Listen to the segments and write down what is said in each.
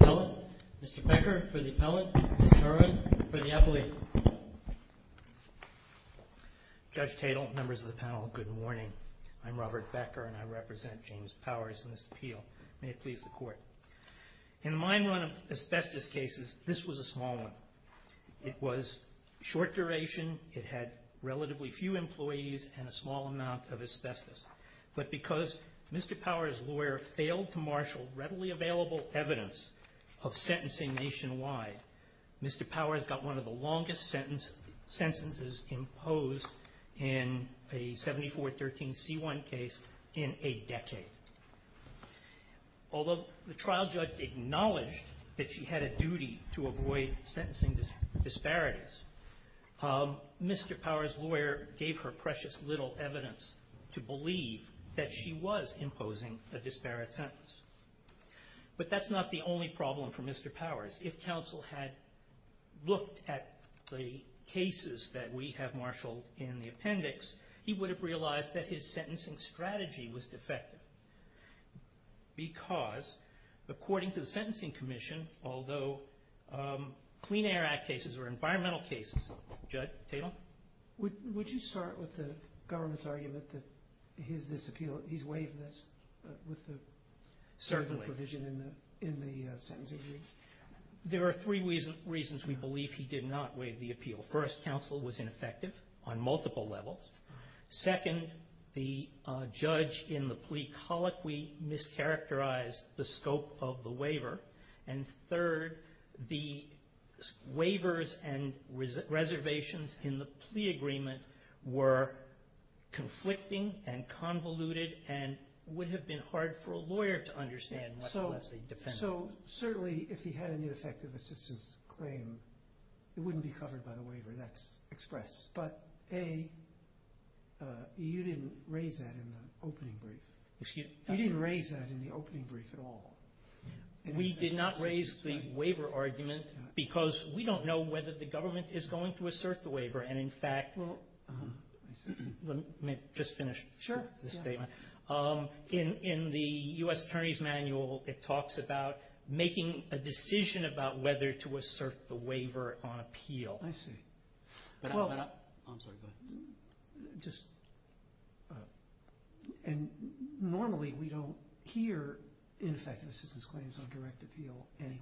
Appellate. Mr. Becker for the Appellate and Ms. Herron for the Appellate. Judge Tatel, members of the panel, good morning. I'm Robert Becker and I represent James Powers in this appeal. May it please the Court. In the mine run of asbestos cases, this was a short duration. It had relatively few employees and a small amount of asbestos. But because Mr. Powers' lawyer failed to marshal readily available evidence of sentencing nationwide, Mr. Powers got one of the longest sentences imposed in a 7413C1 case in a decade. Although the trial judge acknowledged that she had a duty to avoid sentencing disparities, Mr. Powers' lawyer gave her precious little evidence to believe that she was imposing a disparate sentence. But that's not the only problem for Mr. Powers. If counsel had looked at the cases that we have marshaled in the appendix, he would have realized that his sentencing strategy was defective. Because, according to the Sentencing Commission, although Clean Air Act cases are environmental cases, Judge Tatel? Would you start with the government's argument that he's waived this with the provision in the sentencing? There are three reasons we believe he did not waive the appeal. First, counsel was ineffective on multiple levels. Second, the judge in the plea colloquy mischaracterized the scope of the waiver. And third, the waivers and reservations in the plea agreement were conflicting and convoluted and would have been hard for a lawyer to understand. So, certainly, if he had an ineffective assistance claim, it wouldn't be covered by the waiver. That's express. But, A, you didn't raise that in the opening brief. Excuse me? You didn't raise that in the opening brief at all. We did not raise the waiver argument because we don't know whether the government is going to assert the waiver. And, in fact, let me just finish the statement. In the U.S. Attorney's Manual, it talks about making a decision about whether to assert the waiver on appeal. I see. But I'm sorry, go ahead. Just, and normally we don't hear ineffective assistance claims on direct appeal anyway.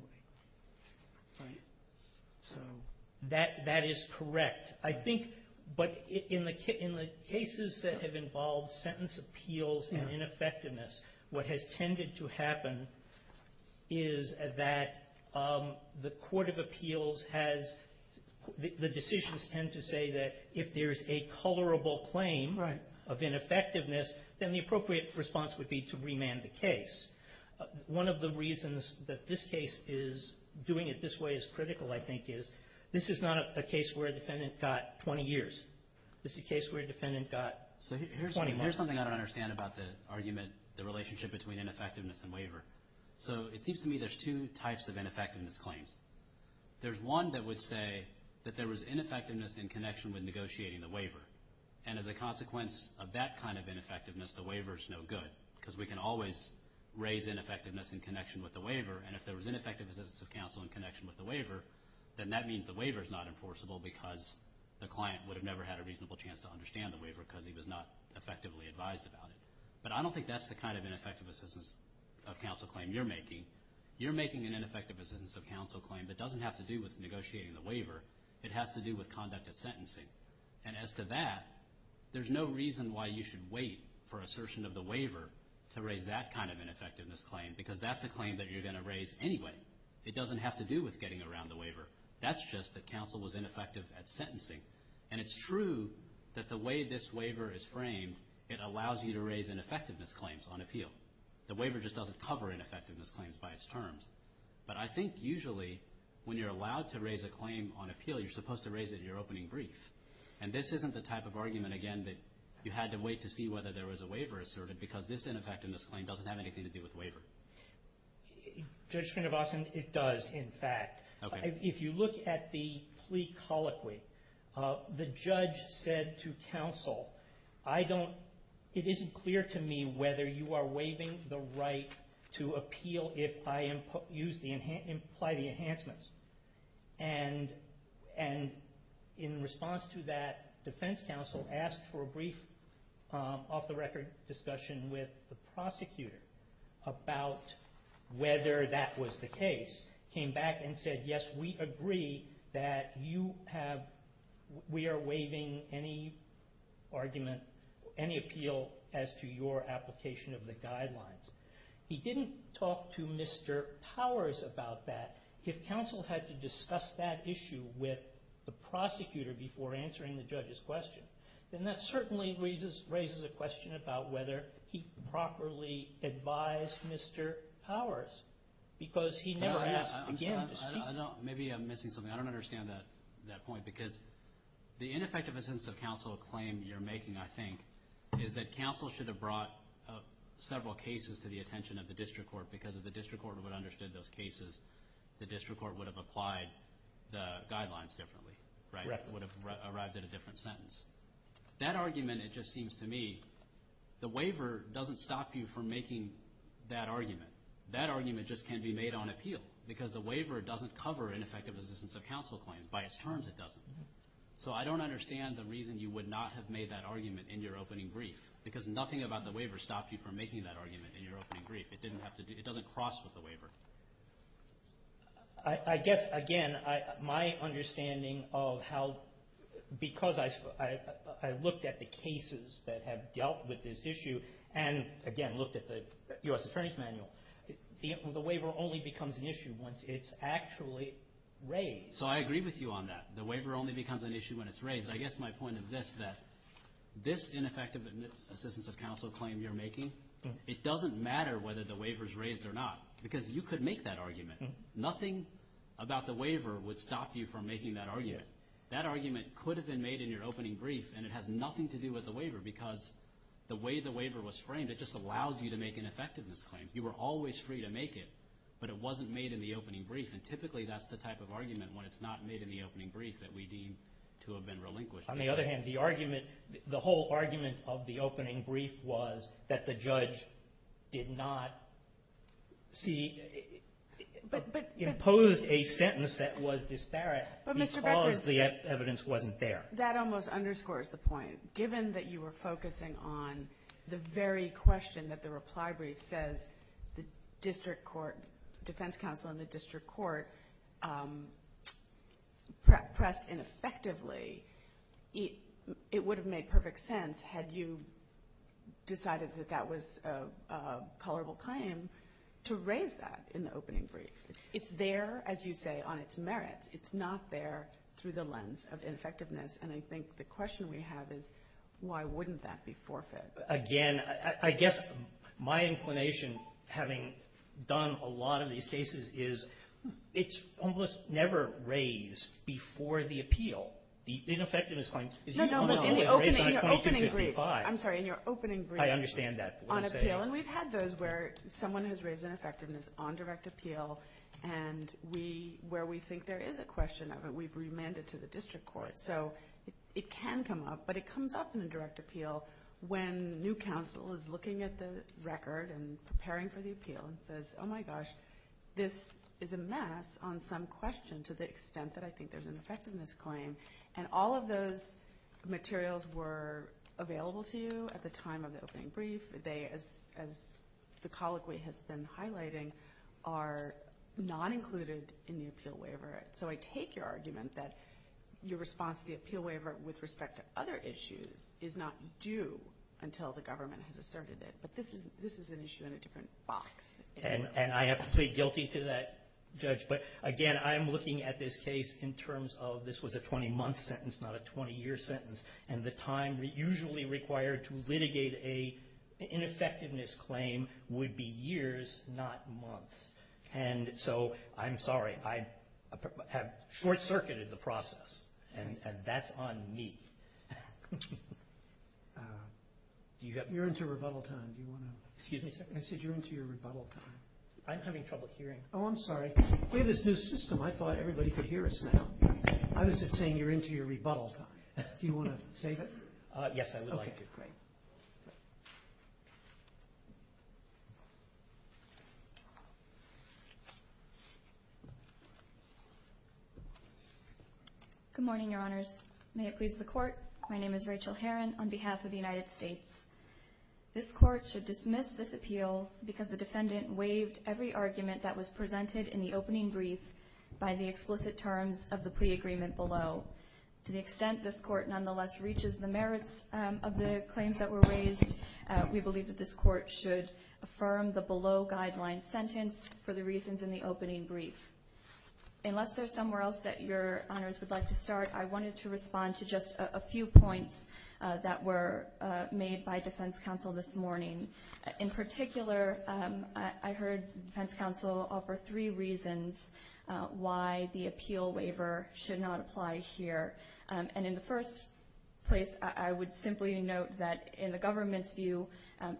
That is correct. I think, but in the cases that have involved sentence appeals and ineffectiveness, what has tended to happen is that the Court of Appeals has, the decisions tend to say that if there's a colorable claim of ineffectiveness, then the appropriate response would be to remand the case. One of the reasons that this case is doing it this way is critical, I think, is this is not a case where a defendant got 20 years. This is a case where a defendant got 20 months. Here's something I don't understand about the argument, the relationship between ineffectiveness and waiver. So it seems to me there's two types of ineffectiveness claims. There's one that would say that there was ineffectiveness in connection with negotiating the waiver. And as a consequence of that kind of ineffectiveness, the waiver is no good, because we can always raise ineffectiveness in connection with the waiver. And if there was ineffective assistance of counsel in connection with the waiver, then that means the waiver is not enforceable because the client would have never had a reasonable chance to understand the waiver because he was not effectively advised about it. But I don't think that's the kind of ineffective assistance of counsel claim you're making. You're making an ineffective assistance of counsel claim that doesn't have to do with negotiating the waiver. It has to do with conduct of sentencing. And as to that, there's no reason why you should wait for assertion of the waiver to raise that kind of ineffectiveness claim, because that's a claim that you're going to raise anyway. It doesn't have to do with getting around the waiver. That's just that counsel was ineffective at sentencing. And it's true that the way this waiver is framed, it allows you to raise ineffectiveness claims on appeal. The waiver just doesn't cover ineffectiveness claims by its terms. But I think usually when you're allowed to raise a claim on appeal, you're supposed to raise it in your opening brief. And this isn't the type of argument, again, that you had to wait to see whether there was a waiver asserted, because this ineffectiveness claim doesn't have anything to do with waiver. Judge Srinivasan, it does, in fact. If you look at the plea colloquy, the judge said to counsel, it isn't clear to me whether you are waiving the right to appeal if I imply the enhancements. And in response to that, defense counsel asked for a brief off-the-record discussion with the prosecutor about whether that was the case, came back and said, yes, we agree that we are waiving any appeal as to your application of the guidelines. He didn't talk to Mr. Powers about that. If counsel had to discuss that issue with the prosecutor before answering the judge's question, then that certainly raises a question about whether he properly advised Mr. Powers, because he never asked again to speak. Maybe I'm missing something. I don't understand that point, because the ineffectiveness of counsel claim you're making, I think, is that counsel should have brought several cases to the attention of the district court, because if the district court would have understood those cases, the district court would have applied the guidelines differently, right? That argument, it just seems to me, the waiver doesn't stop you from making that argument. That argument just can't be made on appeal, because the waiver doesn't cover ineffectiveness of counsel claim. By its terms, it doesn't. So I don't understand the reason you would not have made that argument in your opening brief, because nothing about the waiver stopped you from making that argument in your opening brief. It doesn't cross with the waiver. I guess, again, my understanding of how because I looked at the cases that have dealt with this issue and, again, looked at the U.S. Attorney's Manual, the waiver only becomes an issue once it's actually raised. So I agree with you on that. The waiver only becomes an issue when it's raised. I guess my point is this, that this ineffective assistance of counsel claim you're making, it doesn't matter whether the waiver is raised or not, because you could make that argument. Nothing about the waiver would stop you from making that argument. That argument could have been made in your opening brief, and it has nothing to do with the waiver because the way the waiver was framed, it just allows you to make an effectiveness claim. You were always free to make it, but it wasn't made in the opening brief, and typically that's the type of argument when it's not made in the opening brief that we deem to have been relinquished. On the other hand, the argument, the whole argument of the opening brief was that the judge did not see, imposed a sentence that was disparate because the evidence wasn't there. That almost underscores the point. Given that you were focusing on the very question that the reply brief says the district defense counsel and the district court pressed ineffectively, it would have made perfect sense had you decided that that was a colorable claim to raise that in the opening brief. It's there, as you say, on its merits. It's not there through the lens of ineffectiveness, and I think the question we have is why wouldn't that be forfeit? Again, I guess my inclination, having done a lot of these cases, is it's almost never raised before the appeal, the ineffectiveness claim. No, no. In the opening brief. I'm sorry. In your opening brief. I understand that. On appeal. And we've had those where someone has raised ineffectiveness on direct appeal and we, where we think there is a question of it, we've remanded to the district court. So it can come up, but it comes up in a direct appeal when new counsel is looking at the record and preparing for the appeal and says, oh, my gosh, this is a mess on some question to the extent that I think there's an effectiveness claim. And all of those materials were available to you at the time of the opening brief. They, as the colloquy has been highlighting, are not included in the appeal waiver. So I take your argument that your response to the appeal waiver with respect to other issues is not due until the government has asserted it. But this is an issue in a different box. And I have to plead guilty to that, Judge. But, again, I'm looking at this case in terms of this was a 20-month sentence, not a 20-year sentence. And the time usually required to litigate an ineffectiveness claim would be years, not months. And so I'm sorry. I have short-circuited the process, and that's on me. You're into rebuttal time. Excuse me? I said you're into your rebuttal time. I'm having trouble hearing. Oh, I'm sorry. We have this new system. I thought everybody could hear us now. I was just saying you're into your rebuttal time. Do you want to save it? Yes, I would like to. Great. Good morning, Your Honors. May it please the Court. My name is Rachel Herron on behalf of the United States. This Court should dismiss this appeal because the defendant waived every argument that was presented in the opening brief by the explicit terms of the plea agreement below. To the extent this Court nonetheless reaches the merits of the claims that were raised, we believe that this Court should affirm the below-guideline sentence for the reasons in the opening brief. Unless there's somewhere else that Your Honors would like to start, I wanted to respond to just a few points that were made by defense counsel this morning. In particular, I heard defense counsel offer three reasons why the appeal waiver should not apply here. And in the first place, I would simply note that in the government's view,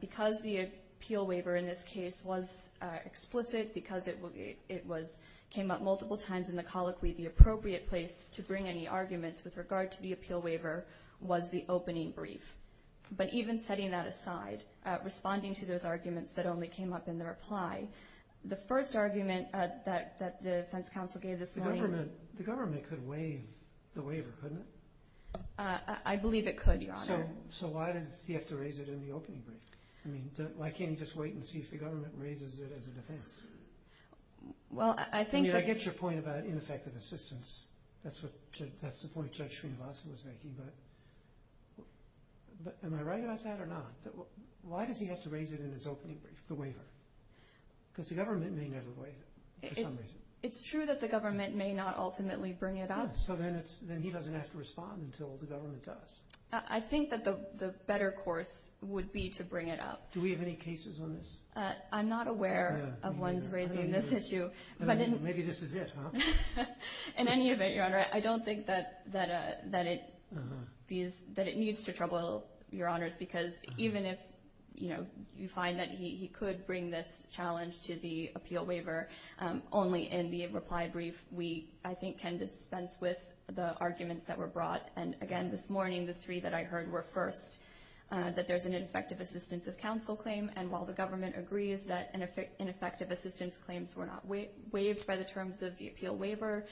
because the appeal waiver in this case was explicit, because it came up multiple times in the colloquy, the appropriate place to bring any arguments with regard to the appeal waiver was the opening brief. But even setting that aside, responding to those arguments that only came up in the reply, the first argument that the defense counsel gave this morning— The government could waive the waiver, couldn't it? I believe it could, Your Honor. So why does he have to raise it in the opening brief? I mean, why can't he just wait and see if the government raises it as a defense? Well, I think— I mean, I get your point about ineffective assistance. That's the point Judge Srinivasan was making, but am I right about that or not? Why does he have to raise it in his opening brief, the waiver? Because the government may never waive it for some reason. It's true that the government may not ultimately bring it up. So then he doesn't have to respond until the government does. I think that the better course would be to bring it up. Do we have any cases on this? I'm not aware of ones raising this issue. Maybe this is it, huh? In any event, Your Honor, I don't think that it needs to trouble Your Honors because even if you find that he could bring this challenge to the appeal waiver, only in the reply brief we, I think, can dispense with the arguments that were brought. And, again, this morning the three that I heard were first, that there's an ineffective assistance of counsel claim, and while the government agrees that ineffective assistance claims were not waived by the terms of the appeal waiver,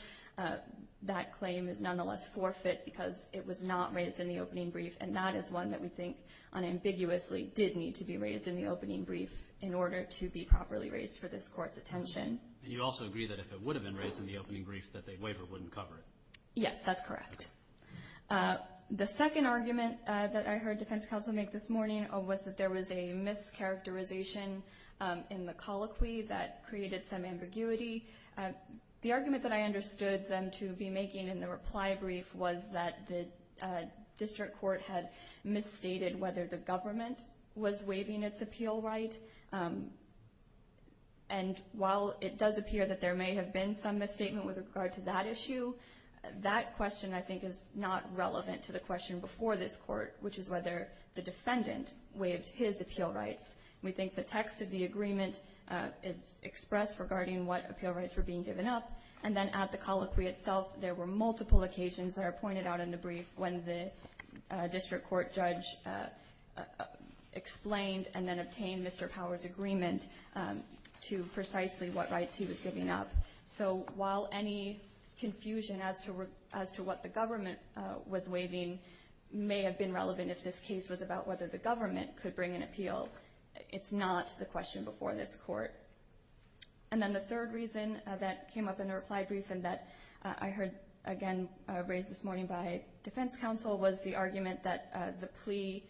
that claim is nonetheless forfeit because it was not raised in the opening brief, and that is one that we think unambiguously did need to be raised in the opening brief in order to be properly raised for this Court's attention. And you also agree that if it would have been raised in the opening brief, that the waiver wouldn't cover it? Yes, that's correct. The second argument that I heard defense counsel make this morning was that there was a mischaracterization in the colloquy that created some ambiguity. The argument that I understood them to be making in the reply brief was that the district court had misstated whether the government was waiving its appeal right. And while it does appear that there may have been some misstatement with regard to that issue, that question, I think, is not relevant to the question before this Court, which is whether the defendant waived his appeal rights. We think the text of the agreement is expressed regarding what appeal rights were being given up, and then at the colloquy itself there were multiple occasions that are pointed out in the brief when the district court judge explained and then obtained Mr. Powers' agreement to precisely what rights he was giving up. So while any confusion as to what the government was waiving may have been relevant if this case was about whether the government could bring an appeal, it's not the question before this Court. And then the third reason that came up in the reply brief and that I heard again raised this morning by defense counsel was the argument that the plea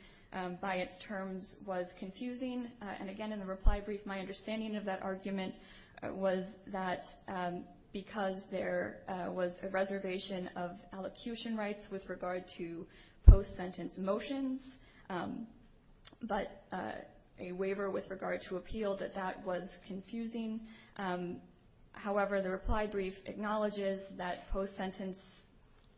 by its terms was confusing. And again, in the reply brief, my understanding of that argument was that because there was a reservation of elocution rights with regard to post-sentence motions, but a waiver with regard to appeal, that that was confusing. However, the reply brief acknowledges that post-sentence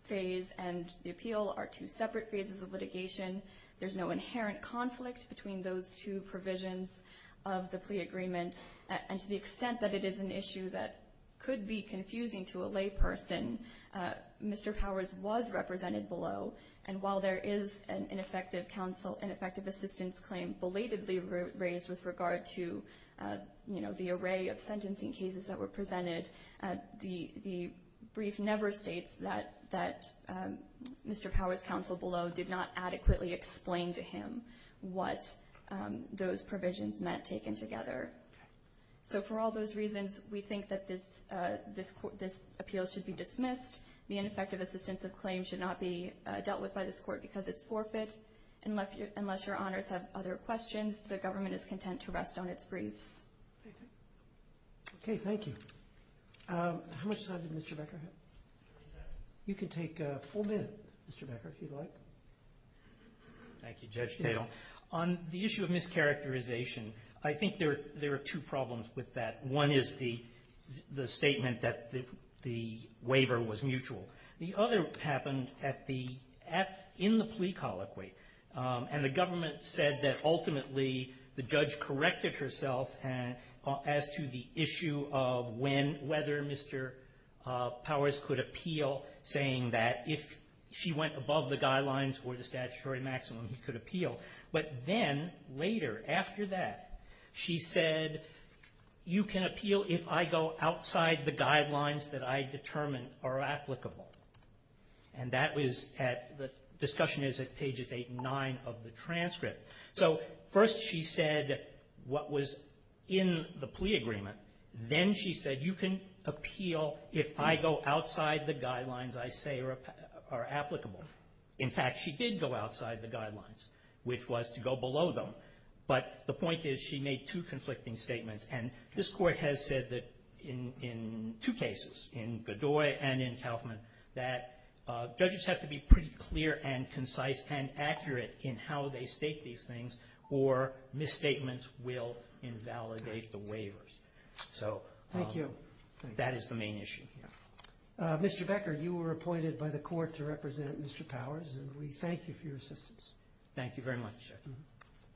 phase and the appeal are two separate phases of litigation. There's no inherent conflict between those two provisions of the plea agreement. And to the extent that it is an issue that could be confusing to a layperson, Mr. Powers was represented below, and while there is an ineffective counsel and effective assistance claim belatedly raised with regard to the array of sentencing cases that were presented, the brief never states that Mr. Powers' counsel below did not adequately explain to him what those provisions meant taken together. So for all those reasons, we think that this appeal should be dismissed. The ineffective assistance of claim should not be dealt with by this Court because it's forfeit. Unless your honors have other questions, the government is content to rest on its briefs. Okay. Thank you. How much time did Mr. Becker have? You can take a full minute, Mr. Becker, if you'd like. Thank you, Judge Tatel. On the issue of mischaracterization, I think there are two problems with that. One is the statement that the waiver was mutual. The other happened at the end of the plea colloquy, and the government said that ultimately the judge corrected herself as to the issue of when, whether Mr. Powers could appeal, saying that if she went above the guidelines or the statutory maximum, he could appeal. But then later, after that, she said, you can appeal if I go outside the guidelines that I determine are applicable. And that was at the discussion is at pages 8 and 9 of the transcript. So first she said what was in the plea agreement. Then she said you can appeal if I go outside the guidelines I say are applicable. In fact, she did go outside the guidelines, which was to go below them. But the point is she made two conflicting statements. And this Court has said that in two cases, in Godoy and in Kaufman, that judges have to be pretty clear and concise and accurate in how they state these things or misstatements will invalidate the waivers. So that is the main issue. Mr. Becker, you were appointed by the Court to represent Mr. Powers, and we thank you for your assistance. Thank you very much.